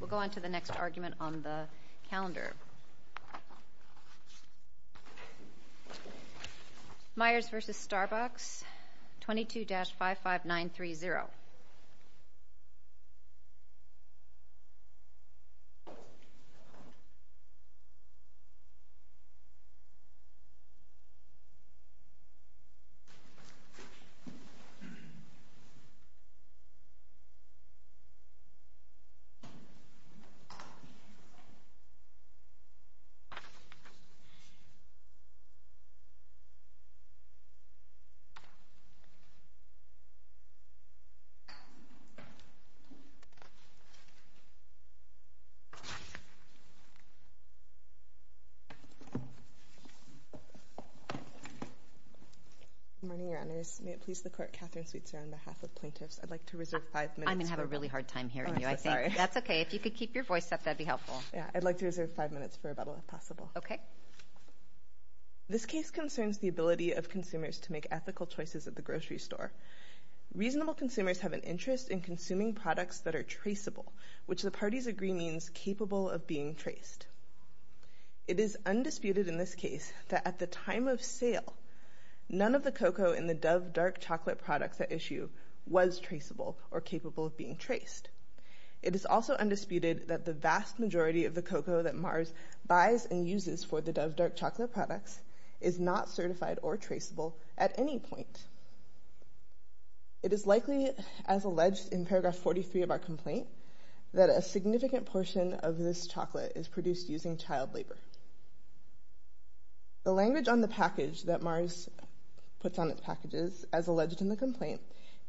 We'll go on to the next argument on the calendar. Myers v. Starbucks, 22-55930. Good morning, your honors. May it please the court, Katherine Sweetser, on behalf of plaintiffs, I'd like to reserve five minutes. I'm going to have a really hard time hearing you. I'm so sorry. That's okay. If you could keep your voice up, that'd be helpful. Yeah. I'd like to reserve five minutes for rebuttal, if possible. Okay. This case concerns the ability of consumers to make ethical choices at the grocery store. Reasonable consumers have an interest in consuming products that are traceable, which the parties agree means capable of being traced. It is undisputed in this case that at the time of sale, none of the cocoa in the Dove Dark Chocolate products at issue was traceable or capable of being traced. It is also undisputed that the vast majority of the cocoa that Myers buys and uses for the Dove Dark Chocolate products is not certified or traceable at any point. It is likely, as alleged in paragraph 43 of our complaint, that a significant portion of this chocolate is produced using child labor. The language on the package that Myers puts on its packages, as alleged in the complaint,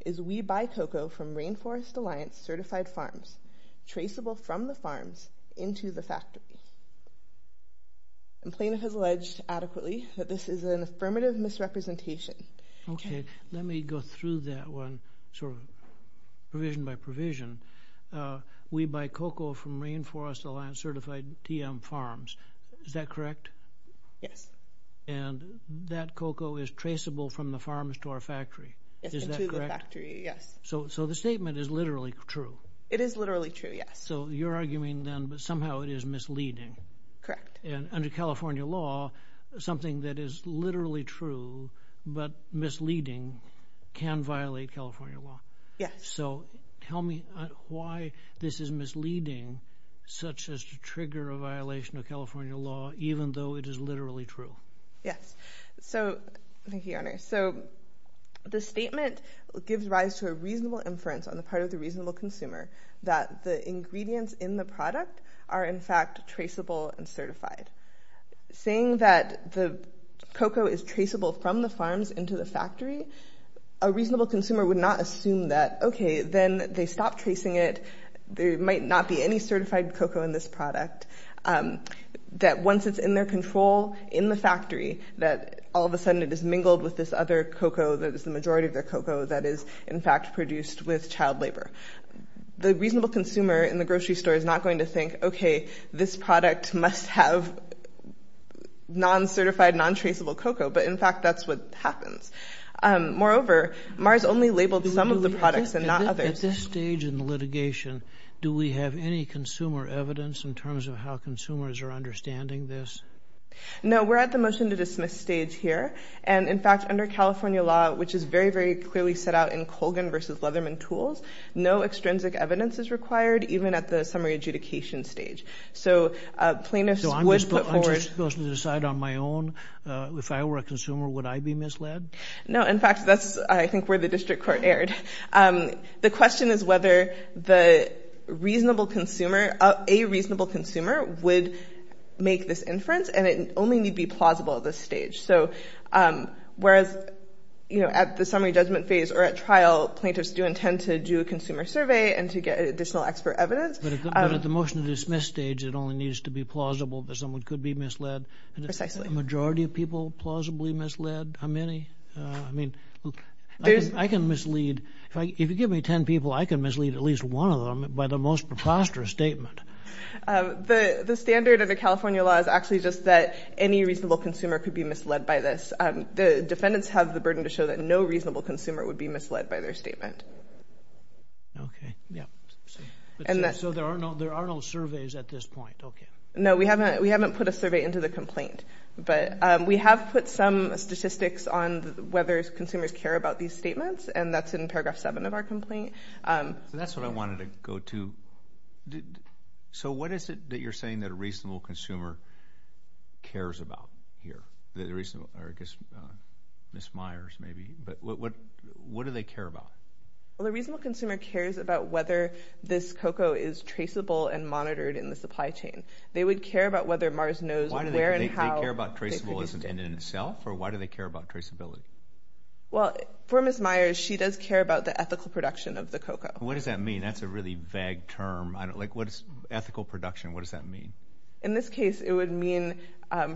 is we buy cocoa from Rainforest Alliance certified farms, traceable from the farms into the factory. The plaintiff has alleged adequately that this is an affirmative misrepresentation. Okay. Let me go through that one, sort of provision by provision. We buy cocoa from Rainforest Alliance certified TM farms, is that correct? Yes. And that cocoa is traceable from the farms to our factory, is that correct? To the factory, yes. So the statement is literally true. It is literally true, yes. So you're arguing then that somehow it is misleading. Correct. And under California law, something that is literally true but misleading can violate California law. Yes. So tell me why this is misleading, such as to trigger a violation of California law, even though it is literally true. Yes. So, thank you, Your Honor. So the statement gives rise to a reasonable inference on the part of the reasonable consumer that the ingredients in the product are in fact traceable and certified. Saying that the cocoa is traceable from the farms into the factory, a reasonable consumer would not assume that, okay, then they stop tracing it, there might not be any certified cocoa in this product, that once it's in their control in the factory, that all of a sudden it is mingled with this other cocoa that is the majority of their cocoa that is in fact produced with child labor. The reasonable consumer in the grocery store is not going to think, okay, this product must have non-certified, non-traceable cocoa, but in fact that's what happens. Moreover, Mars only labeled some of the products and not others. At this stage in the litigation, do we have any consumer evidence in terms of how consumers are understanding this? No, we're at the motion to dismiss stage here. And in fact, under California law, which is very, very clearly set out in Colgan versus Leatherman tools, no extrinsic evidence is required, even at the summary adjudication stage. So plaintiffs would put forward... So I'm just supposed to decide on my own? If I were a consumer, would I be misled? No, in fact, that's I think where the district court erred. The question is whether the reasonable consumer, a reasonable consumer would make this inference and it only need be plausible at this stage. So whereas at the summary judgment phase or at trial, plaintiffs do intend to do a consumer survey and to get additional expert evidence. But at the motion to dismiss stage, it only needs to be plausible that someone could be misled? Precisely. Is the majority of people plausibly misled? How many? I mean, I can mislead, if you give me 10 people, I can mislead at least one of them by the most preposterous statement. The standard of the California law is actually just that any reasonable consumer could be misled by this. The defendants have the burden to show that no reasonable consumer would be misled by their statement. Okay. Yeah. So there are no surveys at this point. Okay. No, we haven't. We haven't put a survey into the complaint. But we have put some statistics on whether consumers care about these statements and that's in paragraph 7 of our complaint. That's what I wanted to go to. So what is it that you're saying that a reasonable consumer cares about here? The reason, or I guess Ms. Myers maybe, but what do they care about? Well, the reasonable consumer cares about whether this COCOA is traceable and monitored in the supply chain. They would care about whether Mars knows where and how they produced it. Why do they care about traceable in itself or why do they care about traceability? Well, for Ms. Myers, she does care about the ethical production of the COCOA. What does that mean? That's a really vague term. I don't, like, what is ethical production? What does that mean? In this case, it would mean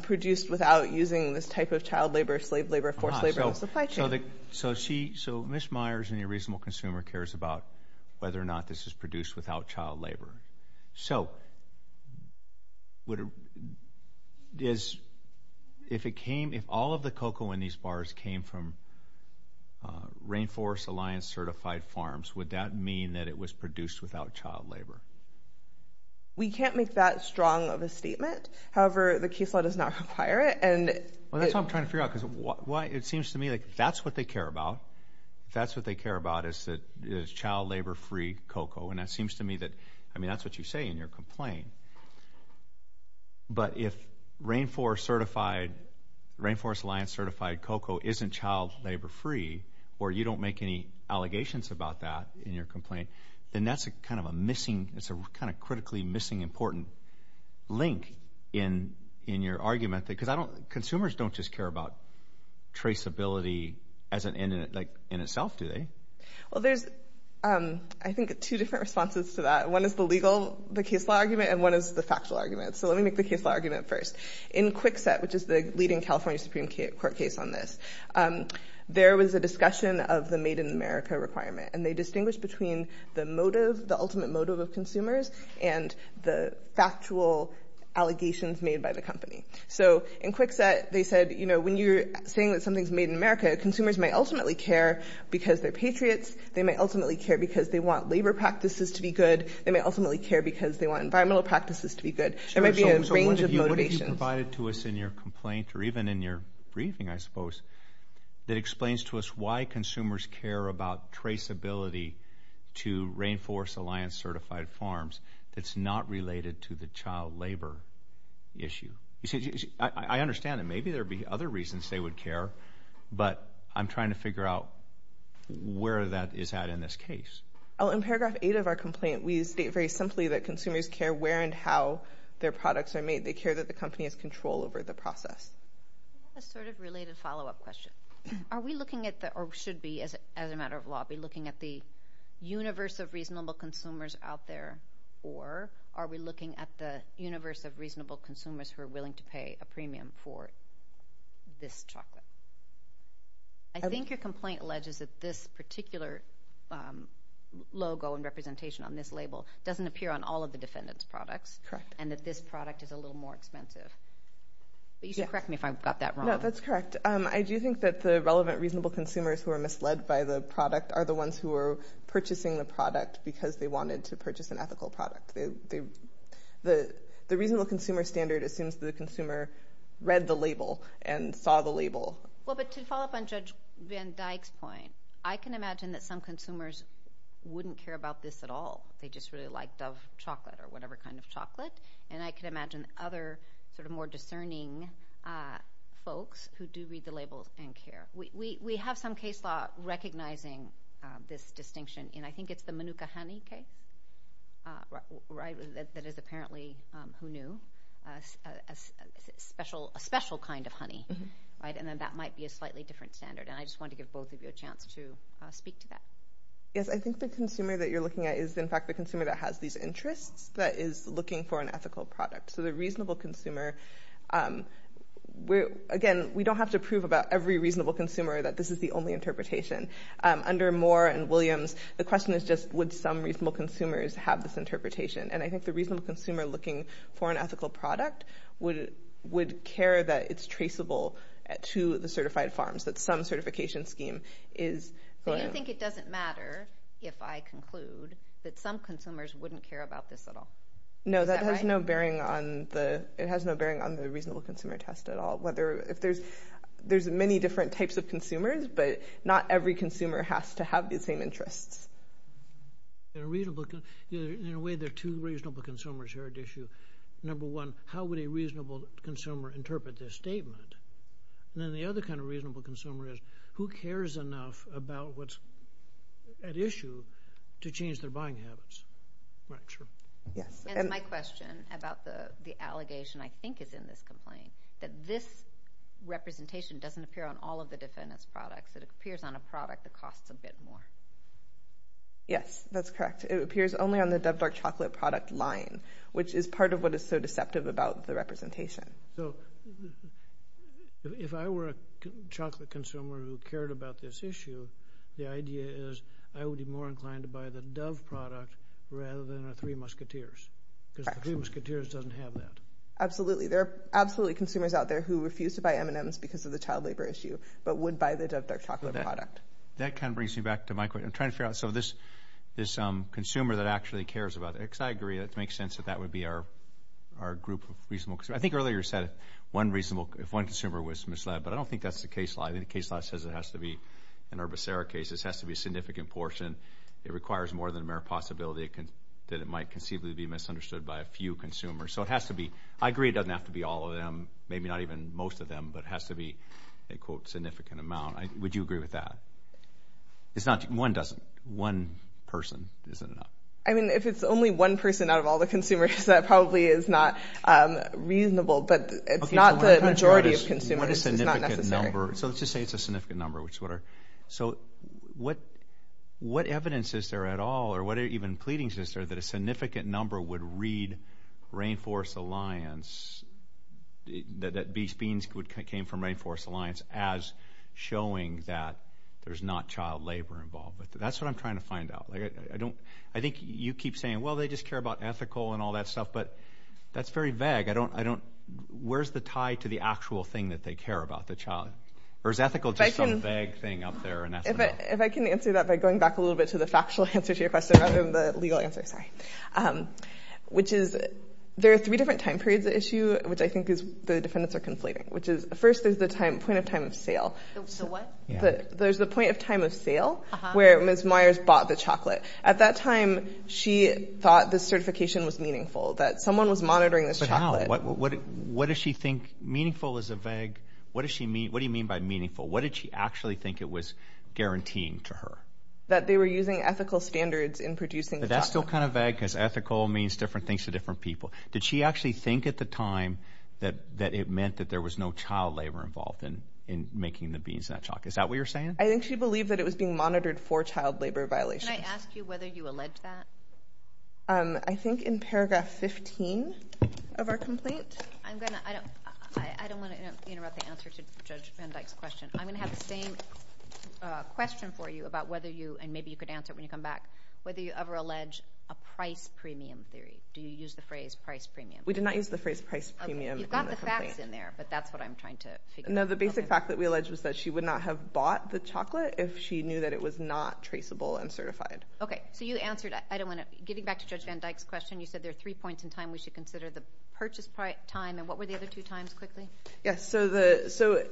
produced without using this type of child labor, slave labor, forced labor in the supply chain. So she, so Ms. Myers and your reasonable consumer cares about whether or not this is produced without child labor. So, would it, is, if it came, if all of the COCOA in these bars came from Rainforest Alliance certified farms, would that mean that it was produced without child labor? We can't make that strong of a statement. However, the case law does not require it and it. Well, that's what I'm trying to figure out because why, it seems to me like that's what they care about. That's what they care about is that, is child labor free COCOA. And that seems to me that, I mean, that's what you say in your complaint. But if Rainforest certified, Rainforest Alliance certified COCOA isn't child labor free or you don't make any allegations about that in your complaint, then that's a kind of a missing, it's a kind of critically missing important link in, in your argument that, because I don't, consumers don't just care about traceability as an, like, in itself, do they? Well, there's, I think, two different responses to that. One is the legal, the case law argument, and one is the factual argument. So let me make the case law argument first. In Kwikset, which is the leading California Supreme Court case on this, there was a discussion of the made in America requirement. And they distinguished between the motive, the ultimate motive of consumers, and the factual allegations made by the company. So in Kwikset, they said, you know, when you're saying that something's made in America, consumers may ultimately care because they're patriots, they may ultimately care because they want labor practices to be good, they may ultimately care because they want environmental practices to be good. There might be a range of motivations. So what have you provided to us in your complaint, or even in your briefing, I suppose, that explains to us why consumers care about traceability to Rainforest Alliance certified farms that's not related to the child labor issue? I understand that maybe there would be other reasons they would care, but I'm trying to figure out where that is at in this case. In paragraph eight of our complaint, we state very simply that consumers care where and how their products are made. They care that the company has control over the process. I have a sort of related follow-up question. Are we looking at the, or should be, as a matter of law, be looking at the universe of reasonable consumers out there, or are we looking at the universe of reasonable consumers who are willing to pay a premium for this chocolate? I think your complaint alleges that this particular logo and representation on this label doesn't appear on all of the defendant's products, and that this product is a little more expensive. But you should correct me if I've got that wrong. No, that's correct. I do think that the relevant reasonable consumers who are misled by the product are the ones who are purchasing the product because they wanted to purchase an ethical product. The reasonable consumer standard assumes the consumer read the label and saw the label. Well, but to follow up on Judge Van Dyck's point, I can imagine that some consumers wouldn't care about this at all. They just really liked Dove chocolate or whatever kind of chocolate, and I can imagine other sort of more discerning folks who do read the labels and care. We have some case law recognizing this distinction, and I think it's the Manuka honey case, that is apparently, who knew, a special kind of honey, and then that might be a slightly different standard. And I just wanted to give both of you a chance to speak to that. Yes, I think the consumer that you're looking at is, in fact, the consumer that has these interests that is looking for an ethical product. So the reasonable consumer, again, we don't have to prove about every reasonable consumer that this is the only interpretation. Under Moore and Williams, the question is just, would some reasonable consumers have this interpretation? And I think the reasonable consumer looking for an ethical product would care that it's traceable to the certified farms, that some certification scheme is going on. So you think it doesn't matter, if I conclude, that some consumers wouldn't care about this at all? Is that right? It has no bearing on the reasonable consumer test at all. There's many different types of consumers, but not every consumer has to have the same interests. In a way, there are two reasonable consumers here at issue. Number one, how would a reasonable consumer interpret this statement? And then the other kind of reasonable consumer is, who cares enough about what's at issue to change their buying habits? Right, sure. Yes. And my question about the allegation, I think, is in this complaint, that this representation doesn't appear on all of the defendant's products, it appears on a product that costs a bit more. Yes, that's correct. It appears only on the Dove Dark Chocolate product line, which is part of what is so deceptive about the representation. So, if I were a chocolate consumer who cared about this issue, the idea is I would be more Because the Dreamers-Coutures doesn't have that. Absolutely. There are absolutely consumers out there who refuse to buy M&Ms because of the child labor issue, but would buy the Dove Dark Chocolate product. That kind of brings me back to my question. I'm trying to figure out, so this consumer that actually cares about it, because I agree, it makes sense that that would be our group of reasonable consumers. I think earlier you said if one consumer was misled, but I don't think that's the case law. I think the case law says it has to be, in our Becerra case, it has to be a significant portion. It requires more than a mere possibility that it might conceivably be misunderstood by a few consumers. So, it has to be, I agree it doesn't have to be all of them, maybe not even most of them, but it has to be a quote, significant amount. Would you agree with that? One person isn't enough. I mean, if it's only one person out of all the consumers, that probably is not reasonable, but it's not the majority of consumers. It's not necessary. So, let's just say it's a significant number. So, what evidence is there at all, or what even pleadings is there, that a significant number would read Rainforest Alliance, that Beans came from Rainforest Alliance, as showing that there's not child labor involved? That's what I'm trying to find out. I think you keep saying, well, they just care about ethical and all that stuff, but that's very vague. I don't, where's the tie to the actual thing that they care about, the child, or is ethical just some vague thing up there, and that's enough? If I can answer that by going back a little bit to the factual answer to your question, rather than the legal answer, sorry, which is, there are three different time periods at issue, which I think is, the defendants are conflating, which is, first, there's the point of time of sale. The what? Yeah. There's the point of time of sale, where Ms. Myers bought the chocolate. At that time, she thought the certification was meaningful, that someone was monitoring this chocolate. But how? What does she think, meaningful is a vague, what does she mean, what do you mean by meaningful? What did she actually think it was guaranteeing to her? That they were using ethical standards in producing the chocolate. But that's still kind of vague, because ethical means different things to different people. Did she actually think at the time that it meant that there was no child labor involved in making the beans and that chocolate? Is that what you're saying? I think she believed that it was being monitored for child labor violations. Can I ask you whether you allege that? I think in paragraph 15 of our complaint. I'm going to, I don't want to interrupt the answer to Judge Van Dyke's question. I'm going to have the same question for you about whether you, and maybe you could answer it when you come back, whether you ever allege a price premium theory. Do you use the phrase price premium? We did not use the phrase price premium in the complaint. You've got the facts in there, but that's what I'm trying to figure out. No, the basic fact that we allege was that she would not have bought the chocolate if she knew that it was not traceable and certified. Okay. So you answered, I don't want to, getting back to Judge Van Dyke's question, you said there are three points in time we should consider, the purchase time, and what were the other two times, quickly? Yes. So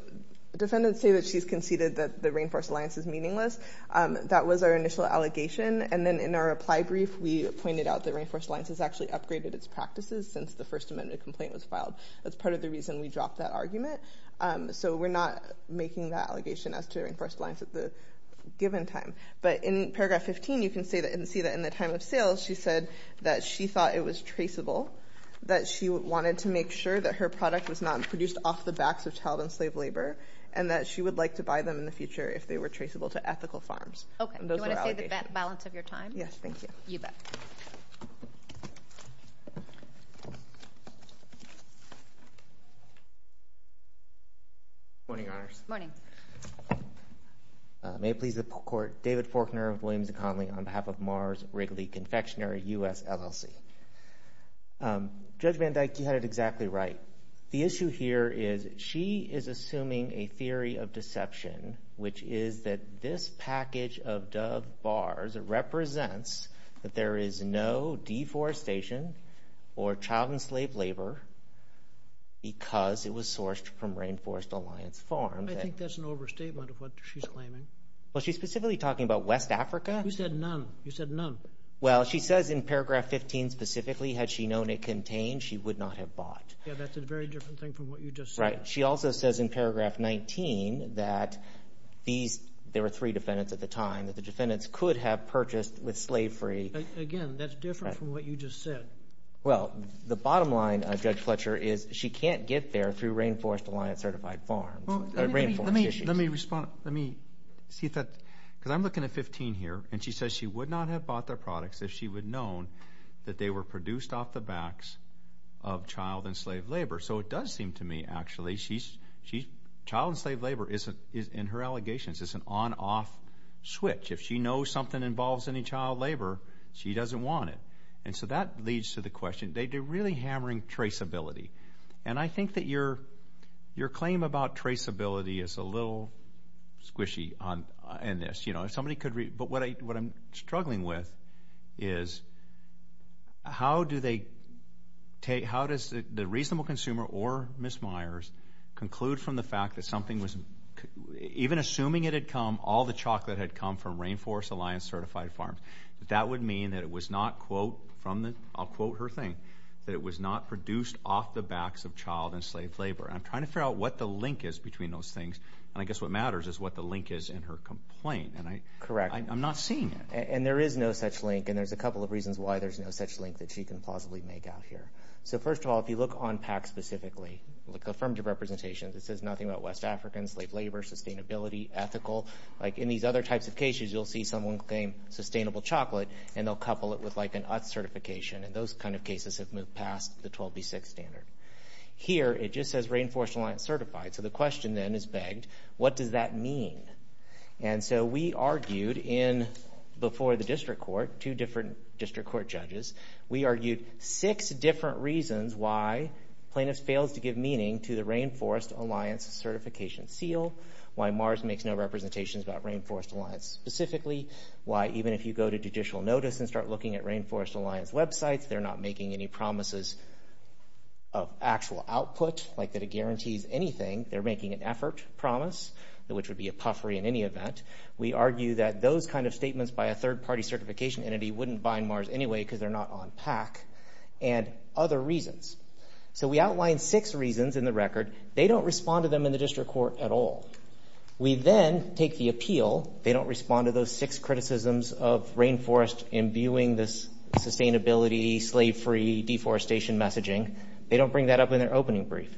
defendants say that she's conceded that the Rainforest Alliance is meaningless. That was our initial allegation, and then in our reply brief, we pointed out that Rainforest Alliance has actually upgraded its practices since the First Amendment complaint was filed. That's part of the reason we dropped that argument. So we're not making that allegation as to Rainforest Alliance at the given time. But in paragraph 15, you can see that in the time of sale, she said that she thought it was traceable, that she wanted to make sure that her product was not produced off the backs of child and slave labor, and that she would like to buy them in the future if they were traceable to ethical farms. Okay. And those were our allegations. Do you want to say the balance of your time? Yes, thank you. You bet. Morning, Your Honors. Morning. May it please the Court, David Forkner of Williams & Connolly on behalf of Mars Wrigley Confectionery, U.S. LLC. Judge Van Dyke, you had it exactly right. The issue here is she is assuming a theory of deception, which is that this package of Dove bars represents that there is no deforestation or child and slave labor because it was sourced from Rainforest Alliance farms. I think that's an overstatement of what she's claiming. Well, she's specifically talking about West Africa. You said none. You said none. Well, she says in paragraph 15 specifically, had she known it contained, she would not have bought. Yeah, that's a very different thing from what you just said. Right. She also says in paragraph 19 that these, there were three defendants at the time, that the defendants could have purchased with slave-free. Again, that's different from what you just said. Well, the bottom line, Judge Fletcher, is she can't get there through Rainforest Alliance certified farms. Well, let me respond. Let me see if that, because I'm looking at 15 here, and she says she would. Would not have bought their products if she would known that they were produced off the backs of child and slave labor. So it does seem to me, actually, child and slave labor is, in her allegations, is an on-off switch. If she knows something involves any child labor, she doesn't want it. And so that leads to the question, they're really hammering traceability. And I think that your claim about traceability is a little squishy in this. But what I'm struggling with is, how do they take, how does the reasonable consumer or Ms. Myers conclude from the fact that something was, even assuming it had come, all the chocolate had come from Rainforest Alliance certified farms, that that would mean that it was not quote from the, I'll quote her thing, that it was not produced off the backs of child and slave labor. And I'm trying to figure out what the link is between those things, and I guess what Correct. I'm not seeing it. And there is no such link. And there's a couple of reasons why there's no such link that she can plausibly make out here. So first of all, if you look on PAC specifically, look at affirmative representations, it says nothing about West Africans, slave labor, sustainability, ethical. Like in these other types of cases, you'll see someone claim sustainable chocolate, and they'll couple it with like an UTS certification. And those kind of cases have moved past the 12B6 standard. Here it just says Rainforest Alliance certified. So the question then is begged, what does that mean? And so we argued in, before the district court, two different district court judges, we argued six different reasons why plaintiffs fails to give meaning to the Rainforest Alliance certification seal, why MARS makes no representations about Rainforest Alliance specifically, why even if you go to judicial notice and start looking at Rainforest Alliance websites, they're not making any promises of actual output, like that it guarantees anything. They're making an effort promise, which would be a puffery in any event. We argue that those kind of statements by a third party certification entity wouldn't bind MARS anyway because they're not on PAC, and other reasons. So we outlined six reasons in the record. They don't respond to them in the district court at all. We then take the appeal, they don't respond to those six criticisms of Rainforest imbuing this sustainability, slave free, deforestation messaging. They don't bring that up in their opening brief.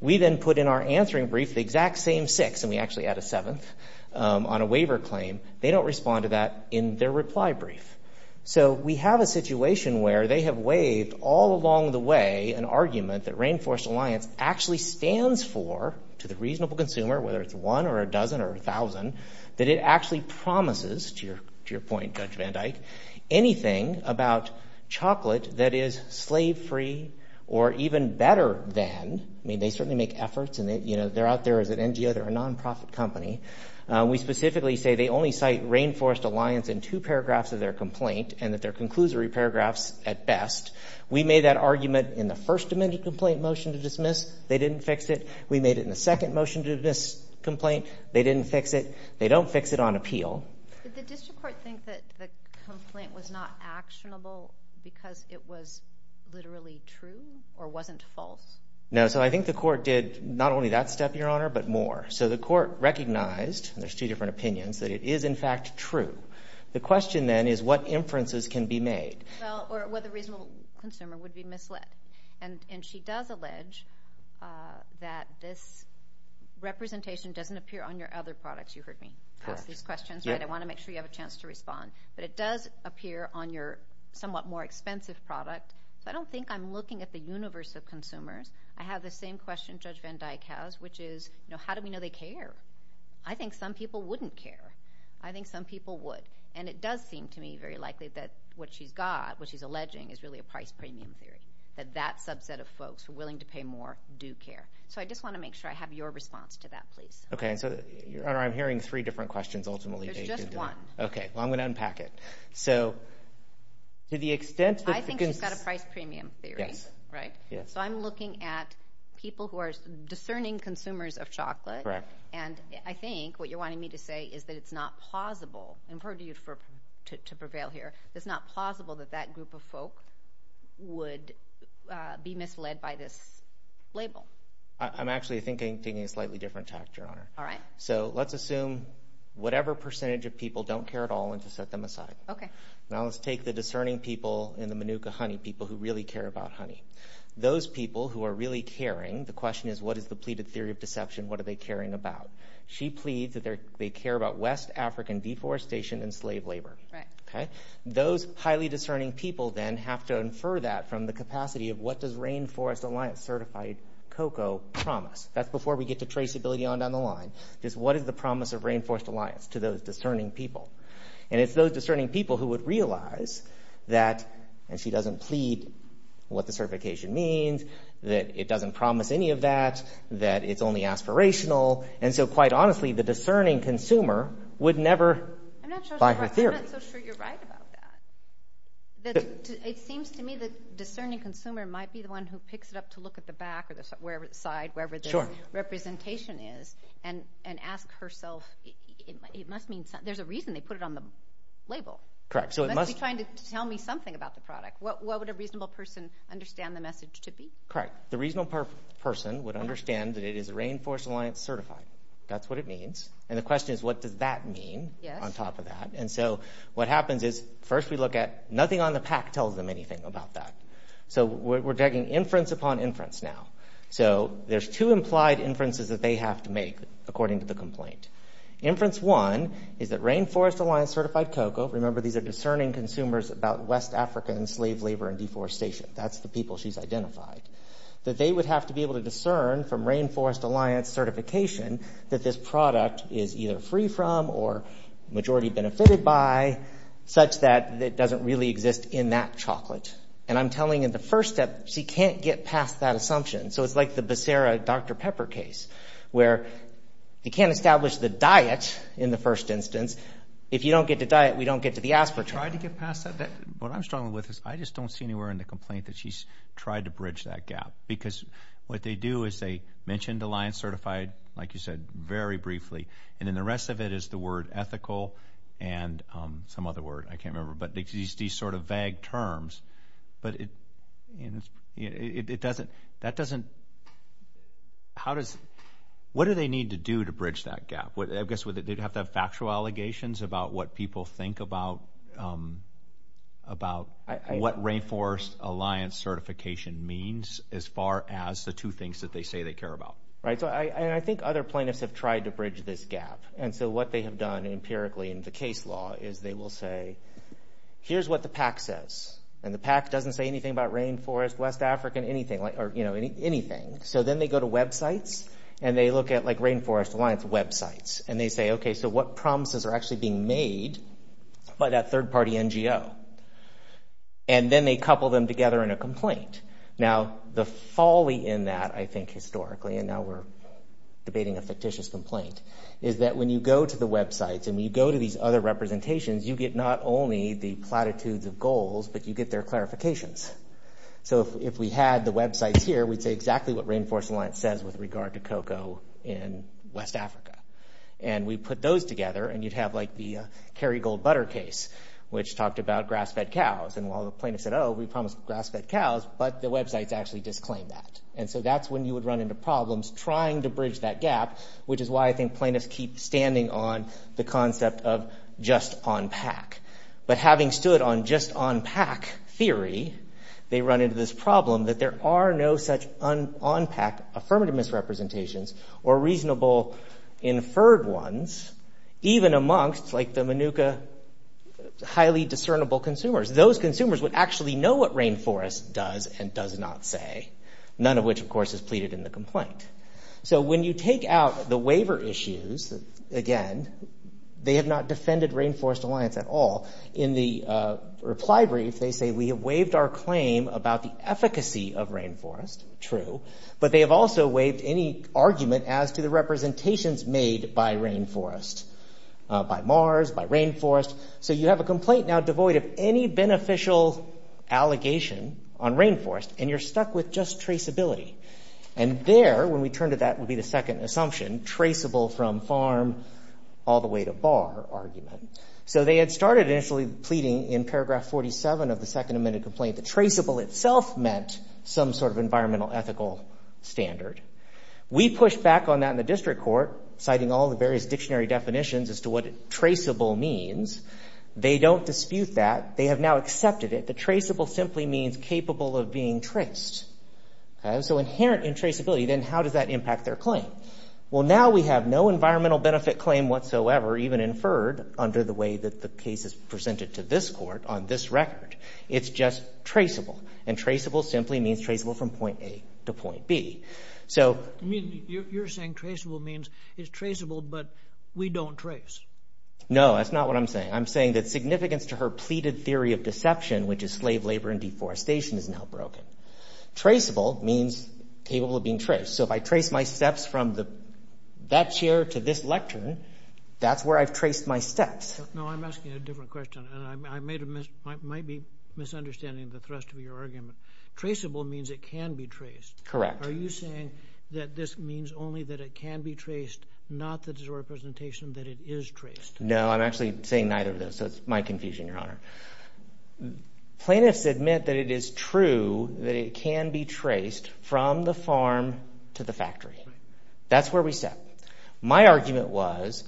We then put in our answering brief the exact same six, and we actually add a seventh, on a waiver claim. They don't respond to that in their reply brief. So we have a situation where they have waived all along the way an argument that Rainforest Alliance actually stands for to the reasonable consumer, whether it's one or a dozen or 1,000, that it actually promises, to your point Judge Van Dyke, anything about chocolate that is even better than, I mean they certainly make efforts and they're out there as an NGO, they're a non-profit company. We specifically say they only cite Rainforest Alliance in two paragraphs of their complaint and that they're conclusory paragraphs at best. We made that argument in the first amended complaint motion to dismiss. They didn't fix it. We made it in the second motion to dismiss complaint. They didn't fix it. They don't fix it on appeal. Did the district court think that the complaint was not actionable because it was literally true or wasn't false? No, so I think the court did not only that step, Your Honor, but more. So the court recognized, and there's two different opinions, that it is in fact true. The question then is what inferences can be made? Well, or whether reasonable consumer would be misled. And she does allege that this representation doesn't appear on your other products. You heard me ask these questions, right? I want to make sure you have a chance to respond. But it does appear on your somewhat more expensive product. So I don't think I'm looking at the universe of consumers. I have the same question Judge Van Dyke has, which is, you know, how do we know they care? I think some people wouldn't care. I think some people would. And it does seem to me very likely that what she's got, what she's alleging, is really a price premium theory, that that subset of folks who are willing to pay more do care. So I just want to make sure I have your response to that, please. Okay, so, Your Honor, I'm hearing three different questions, ultimately. There's just one. Okay, well, I'm going to unpack it. So, to the extent that— I think she's got a price premium theory, right? Yes, yes. So I'm looking at people who are discerning consumers of chocolate. Correct. And I think what you're wanting me to say is that it's not plausible—and I'm purporting to prevail here—it's not plausible that that group of folk would be misled by this label. I'm actually thinking a slightly different tactic, Your Honor. All right. So let's assume whatever percentage of people don't care at all and to set them aside. Okay. Now let's take the discerning people in the Manuka honey, people who really care about honey. Those people who are really caring, the question is, what is the pleaded theory of deception? What are they caring about? She pleads that they care about West African deforestation and slave labor. Right. Okay? Those highly discerning people, then, have to infer that from the capacity of what does Rainforest Alliance certified cocoa promise? That's before we get to traceability on down the line, is what is the promise of Rainforest Alliance to those discerning people? And it's those discerning people who would realize that—and she doesn't plead what the certification means, that it doesn't promise any of that, that it's only aspirational. And so, quite honestly, the discerning consumer would never buy her theory. I'm not so sure you're right about that. It seems to me the discerning consumer might be the one who picks it up to look at the back or the side, wherever the representation is, and ask herself—there's a reason they put it on the label. Correct. So it must— They must be trying to tell me something about the product. What would a reasonable person understand the message to be? Correct. The reasonable person would understand that it is Rainforest Alliance certified. That's what it means. And the question is, what does that mean on top of that? And so, what happens is, first we look at—nothing on the pack tells them anything about that. So we're taking inference upon inference now. So there's two implied inferences that they have to make, according to the complaint. Inference one is that Rainforest Alliance certified cocoa—remember, these are discerning consumers about West African slave labor and deforestation. That's the people she's identified. That they would have to be able to discern from Rainforest Alliance certification that this product is either free from or majority benefited by, such that it doesn't really exist in that chocolate. And I'm telling in the first step, she can't get past that assumption. So it's like the Becerra-Dr. Pepper case, where you can't establish the diet in the first instance. If you don't get the diet, we don't get to the aspartame. Try to get past that. What I'm struggling with is, I just don't see anywhere in the complaint that she's tried to bridge that gap. Because what they do is they mention Alliance certified, like you said, very briefly, and then the rest of it is the word ethical and some other word, I can't remember. But these sort of vague terms, but it doesn't, that doesn't, what do they need to do to bridge that gap? I guess they'd have to have factual allegations about what people think about what Rainforest Alliance certification means, as far as the two things that they say they care about. Right. So I think other plaintiffs have tried to bridge this gap. So what they have done empirically in the case law is they will say, here's what the PAC says, and the PAC doesn't say anything about Rainforest, West African, anything. So then they go to websites, and they look at like Rainforest Alliance websites, and they say, okay, so what promises are actually being made by that third party NGO? And then they couple them together in a complaint. Now the folly in that, I think historically, and now we're debating a fictitious complaint, is that when you go to the websites, and you go to these other representations, you get not only the platitudes of goals, but you get their clarifications. So if we had the websites here, we'd say exactly what Rainforest Alliance says with regard to cocoa in West Africa. And we put those together, and you'd have like the Kerrygold Butter case, which talked about grass-fed cows. And while the plaintiff said, oh, we promised grass-fed cows, but the websites actually disclaimed that. And so that's when you would run into problems trying to bridge that gap, which is why I think plaintiffs keep standing on the concept of just on-pack. But having stood on just on-pack theory, they run into this problem that there are no such on-pack affirmative misrepresentations or reasonable inferred ones, even amongst like the Manuka highly discernible consumers. Those consumers would actually know what Rainforest does and does not say, none of which, of course, is pleaded in the complaint. So when you take out the waiver issues, again, they have not defended Rainforest Alliance at all. In the reply brief, they say, we have waived our claim about the efficacy of Rainforest. True. But they have also waived any argument as to the representations made by Rainforest, by Mars, by Rainforest. So you have a complaint now devoid of any beneficial allegation on Rainforest, and you're stuck with just traceability. And there, when we turn to that would be the second assumption, traceable from farm all the way to bar argument. So they had started initially pleading in paragraph 47 of the second amended complaint that traceable itself meant some sort of environmental ethical standard. We pushed back on that in the district court, citing all the various dictionary definitions as to what traceable means. They don't dispute that. They have now accepted it. The traceable simply means capable of being traced. And so inherent in traceability, then how does that impact their claim? Well, now we have no environmental benefit claim whatsoever even inferred under the way that the case is presented to this court on this record. It's just traceable. And traceable simply means traceable from point A to point B. So you're saying traceable means it's traceable, but we don't trace. No, that's not what I'm saying. I'm saying that significance to her pleaded theory of deception, which is slave labor and deforestation is now broken. Traceable means capable of being traced. So if I trace my steps from that chair to this lectern, that's where I've traced my steps. No, I'm asking a different question. And I might be misunderstanding the thrust of your argument. Traceable means it can be traced. Correct. Are you saying that this means only that it can be traced, not that it's a representation that it is traced? No, I'm actually saying neither of those. So it's my confusion, Your Honor. Plaintiffs admit that it is true that it can be traced from the farm to the factory. That's where we step. My argument was,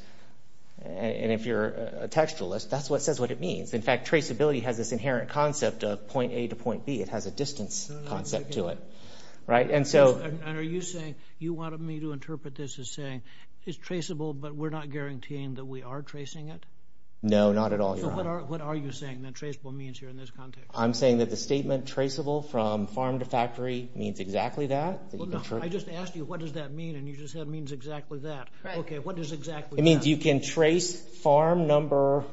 and if you're a textualist, that's what says what it means. In fact, traceability has this inherent concept of point A to point B. It has a distance concept to it. Right? And so... And are you saying, you wanted me to interpret this as saying, it's traceable, but we're No, not at all, Your Honor. So what are you saying that traceable means here in this context? I'm saying that the statement traceable from farm to factory means exactly that. Well, no, I just asked you what does that mean, and you just said it means exactly that. Right. Okay, what does exactly that mean? It means you can trace farm number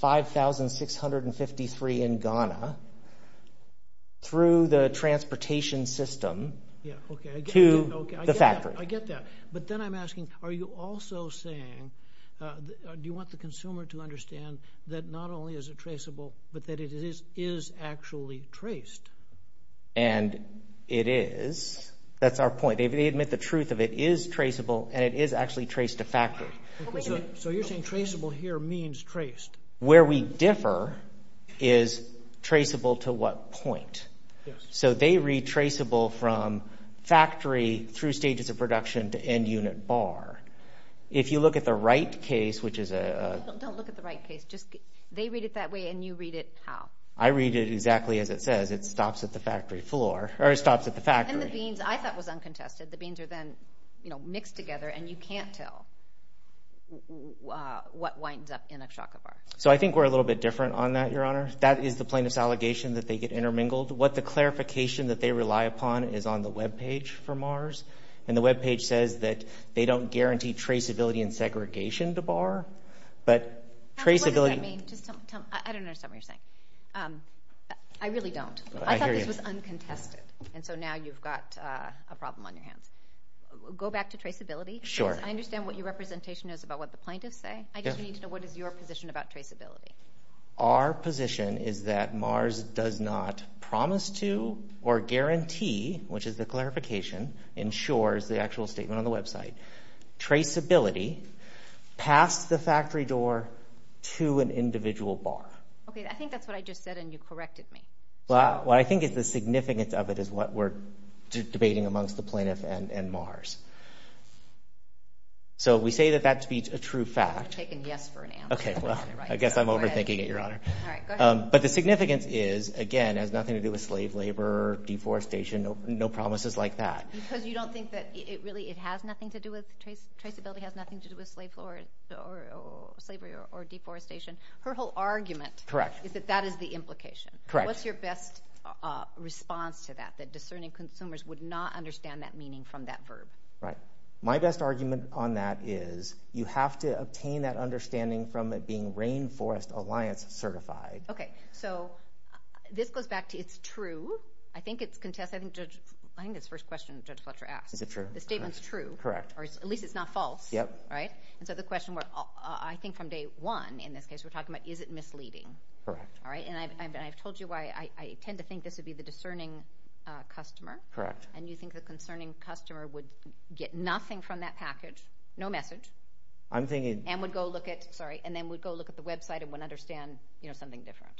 5,653 in Ghana through the transportation system to the factory. I get that. But then I'm asking, are you also saying, do you want the consumer to understand that not only is it traceable, but that it is actually traced? And it is. That's our point. They admit the truth of it is traceable, and it is actually traced to factory. So you're saying traceable here means traced. Where we differ is traceable to what point. So they read traceable from factory through stages of production to end unit bar. If you look at the Wright case, which is a Don't look at the Wright case. They read it that way, and you read it how? I read it exactly as it says. It stops at the factory floor, or it stops at the factory. And the beans, I thought, was uncontested. The beans are then mixed together, and you can't tell what winds up in a Chaka bar. So I think we're a little bit different on that, Your Honor. That is the plaintiff's allegation, that they get intermingled. What the clarification that they rely upon is on the web page for Mars. And the web page says that they don't guarantee traceability and segregation to bar. But traceability What does that mean? I don't understand what you're saying. I really don't. I thought this was uncontested. I hear you. And so now you've got a problem on your hands. Go back to traceability. Sure. Because I understand what your representation is about what the plaintiffs say. I just need to know, what is your position about traceability? Our position is that Mars does not promise to or guarantee, which is the clarification, ensures the actual statement on the website, traceability past the factory door to an individual bar. Okay. I think that's what I just said, and you corrected me. Well, what I think is the significance of it is what we're debating amongst the plaintiff and Mars. So we say that that to be a true fact. I've taken yes for an answer. Okay. I guess I'm overthinking it, Your Honor. All right. Go ahead. But the significance is, again, it has nothing to do with slave labor, deforestation, no promises like that. Because you don't think that it really has nothing to do with traceability, has nothing to do with slavery or deforestation. Her whole argument is that that is the implication. Correct. What's your best response to that, that discerning consumers would not understand that meaning from that verb? Right. My best argument on that is you have to obtain that understanding from it being Rainforest Alliance certified. Okay. So this goes back to it's true. I think it's contested. I think it's the first question Judge Fletcher asked. Is it true? The statement's true. Correct. Or at least it's not false. Yep. Right? And so the question, I think from day one in this case, we're talking about is it misleading? Correct. All right. And I've told you why I tend to think this would be the discerning customer. Correct. And you think the concerning customer would get nothing from that package, no message. I'm thinking... And would go look at... Sorry. And then would go look at the website and wouldn't understand something different.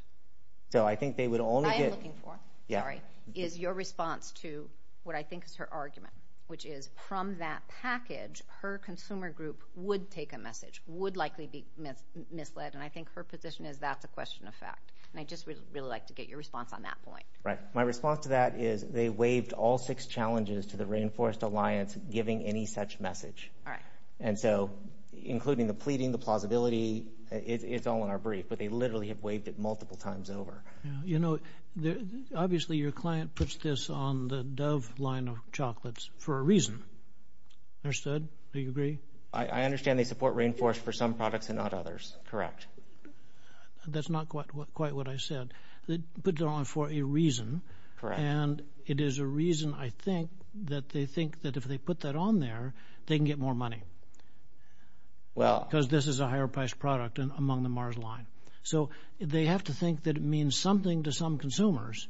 So I think they would only get... I am looking for. Yeah. Sorry. Is your response to what I think is her argument, which is from that package, her consumer group would take a message, would likely be misled, and I think her position is that's a question of fact. And I just would really like to get your response on that point. Right. My response to that is they waived all six challenges to the Rainforest Alliance giving any such message. All right. And so including the pleading, the plausibility, it's all in our brief, but they literally have waived it multiple times over. You know, obviously your client puts this on the Dove line of chocolates for a reason. Understood? Do you agree? I understand they support Rainforest for some products and not others. Correct. That's not quite what I said. They put it on for a reason. Correct. And it is a reason, I think, that they think that if they put that on there, they can get more money. Well... Because this is a higher priced product among the Mars line. So they have to think that it means something to some consumers.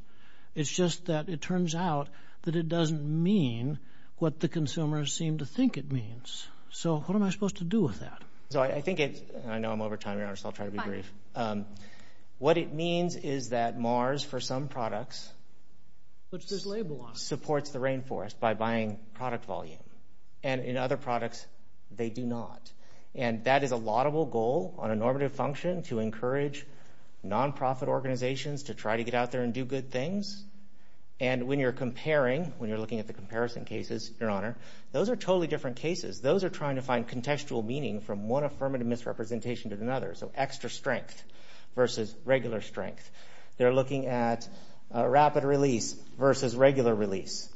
It's just that it turns out that it doesn't mean what the consumers seem to think it means. So what am I supposed to do with that? So I think it's... I know I'm over time. I'll try to be brief. Fine. What it means is that Mars, for some products, supports the Rainforest by buying product volume. And in other products, they do not. And that is a laudable goal on a normative function to encourage non-profit organizations to try to get out there and do good things. And when you're comparing, when you're looking at the comparison cases, Your Honor, those are totally different cases. Those are trying to find contextual meaning from one affirmative misrepresentation to another. So extra strength versus regular strength. They're looking at rapid release versus regular release.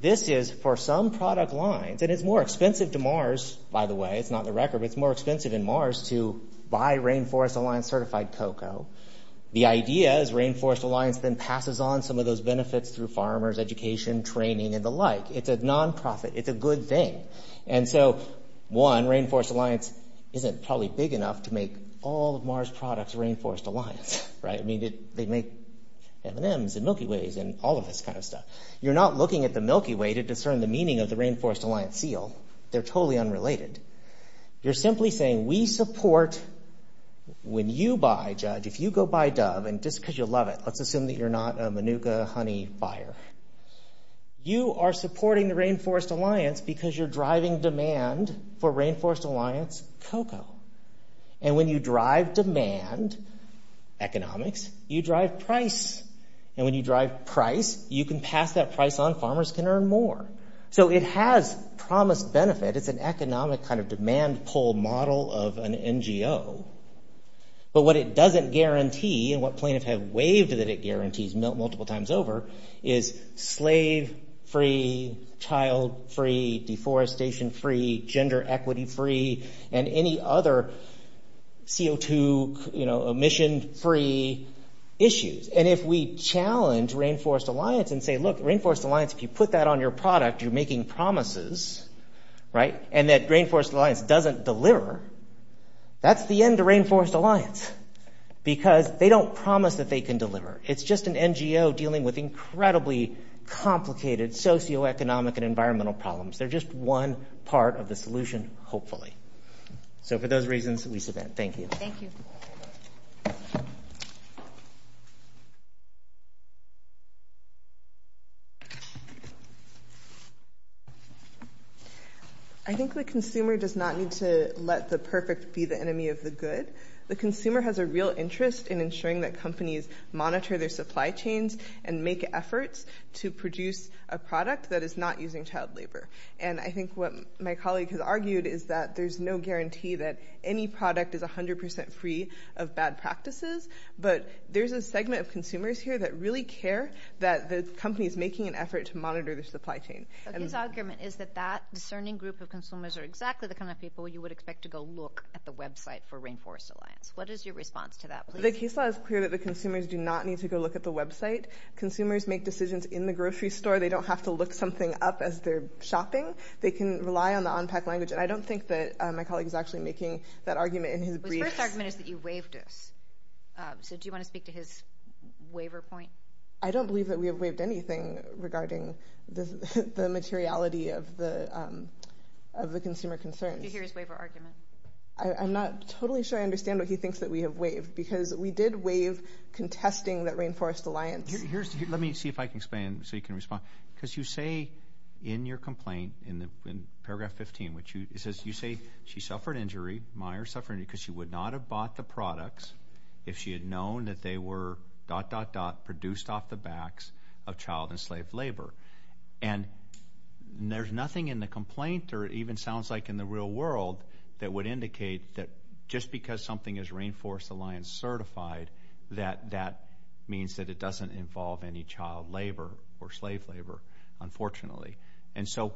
This is, for some product lines, and it's more expensive to Mars, by the way, it's not the record, but it's more expensive in Mars to buy Rainforest Alliance certified cocoa. The idea is Rainforest Alliance then passes on some of those benefits through farmers, education, training, and the like. It's a non-profit. It's a good thing. And so, one, Rainforest Alliance isn't probably big enough to make all of Mars' products Rainforest Alliance, right? I mean, they make M&Ms and Milky Ways and all of this kind of stuff. You're not looking at the Milky Way to discern the meaning of the Rainforest Alliance seal. They're totally unrelated. You're simply saying we support, when you buy, Judge, if you go buy Dove, and just because you love it, let's assume that you're not a Manuka honey buyer, you are supporting the driving demand for Rainforest Alliance cocoa. And when you drive demand, economics, you drive price. And when you drive price, you can pass that price on. Farmers can earn more. So it has promised benefit. It's an economic kind of demand pull model of an NGO. But what it doesn't guarantee, and what plaintiffs have waived that it guarantees multiple times over, is slave-free, child-free, deforestation-free, gender equity-free, and any other CO2 emission-free issues. And if we challenge Rainforest Alliance and say, look, Rainforest Alliance, if you put that on your product, you're making promises, right? And that Rainforest Alliance doesn't deliver, that's the end of Rainforest Alliance. Because they don't promise that they can deliver. It's just an NGO dealing with incredibly complicated socioeconomic and environmental problems. They're just one part of the solution, hopefully. So for those reasons, Lisa Venn, thank you. Thank you. I think the consumer does not need to let the perfect be the enemy of the good. The consumer has a real interest in ensuring that companies monitor their supply chains and make efforts to produce a product that is not using child labor. And I think what my colleague has argued is that there's no guarantee that any product is 100% free of bad practices. But there's a segment of consumers here that really care that the company is making an effort to monitor their supply chain. So his argument is that that discerning group of consumers are exactly the kind of people you would expect to go look at the website for Rainforest Alliance. What is your response to that, please? The case law is clear that the consumers do not need to go look at the website. Consumers make decisions in the grocery store. They don't have to look something up as they're shopping. They can rely on the on-pack language. And I don't think that my colleague is actually making that argument in his briefs. His first argument is that you waived us. So do you want to speak to his waiver point? I don't believe that we have waived anything regarding the materiality of the consumer concerns. I'm not totally sure I understand what he thinks that we have waived. Because we did waive contesting that Rainforest Alliance. Let me see if I can explain so you can respond. Because you say in your complaint, in paragraph 15, you say she suffered injury, Meyers suffered injury because she would not have bought the products if she had known that they were dot dot dot produced off the backs of child and slave labor. And there's nothing in the complaint or even sounds like in the real world that would indicate that just because something is Rainforest Alliance certified, that that means that it doesn't involve any child labor or slave labor, unfortunately. And so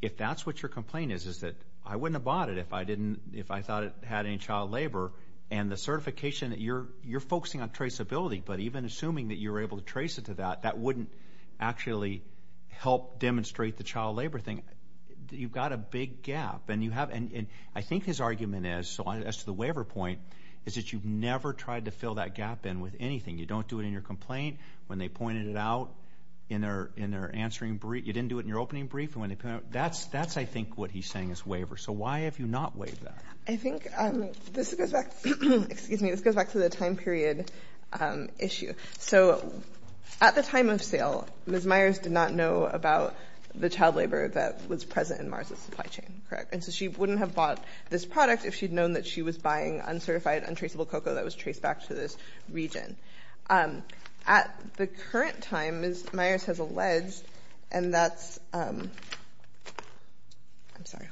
if that's what your complaint is, is that I wouldn't have bought it if I thought it had any child labor. And the certification that you're focusing on traceability, but even assuming that you're able to trace it to that, that wouldn't actually help demonstrate the child labor thing. You've got a big gap. And I think his argument is, so as to the waiver point, is that you've never tried to fill that gap in with anything. You don't do it in your complaint when they pointed it out in their answering brief. You didn't do it in your opening brief. That's I think what he's saying is waiver. So why have you not waived that? I think this goes back to the time period issue. So at the time of sale, Ms. Meyers did not know about the child labor that was present in Mars's supply chain. Correct. And so she wouldn't have bought this product if she'd known that she was buying uncertified untraceable cocoa that was traced back to this region. At the current time, Ms. Meyers has alleged, and that's, I'm sorry,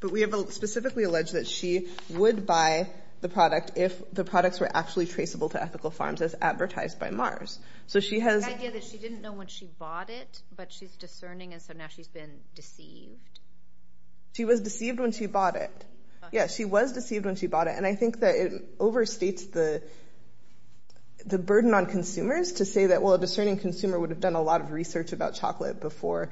but we have specifically alleged that she would buy the product if the products were actually traceable to ethical farms as advertised by Mars. So she has... The idea that she didn't know when she bought it, but she's discerning and so now she's been deceived. She was deceived when she bought it. Yeah, she was deceived when she bought it. And I think that it overstates the burden on consumers to say that, well, a discerning consumer would have done a lot of research about chocolate before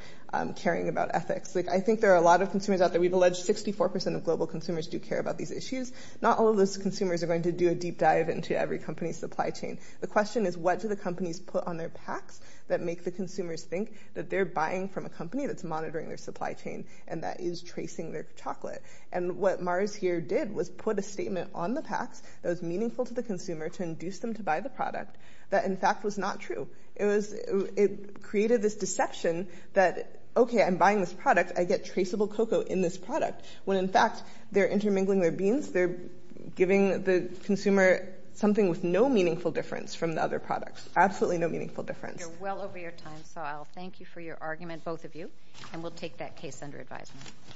caring about ethics. I think there are a lot of consumers out there, we've alleged 64% of global consumers do care about these issues. Not all of those consumers are going to do a deep dive into every company's supply chain. The question is, what do the companies put on their packs that make the consumers think that they're buying from a company that's monitoring their supply chain and that is tracing their chocolate? And what Mars here did was put a statement on the packs that was meaningful to the consumer to induce them to buy the product that, in fact, was not true. It created this deception that, okay, I'm buying this product, I get traceable cocoa in this product. When, in fact, they're intermingling their beans, they're giving the consumer something with no meaningful difference from the other products, absolutely no meaningful difference. We're well over your time, so I'll thank you for your argument, both of you, and we'll take that case under advisement.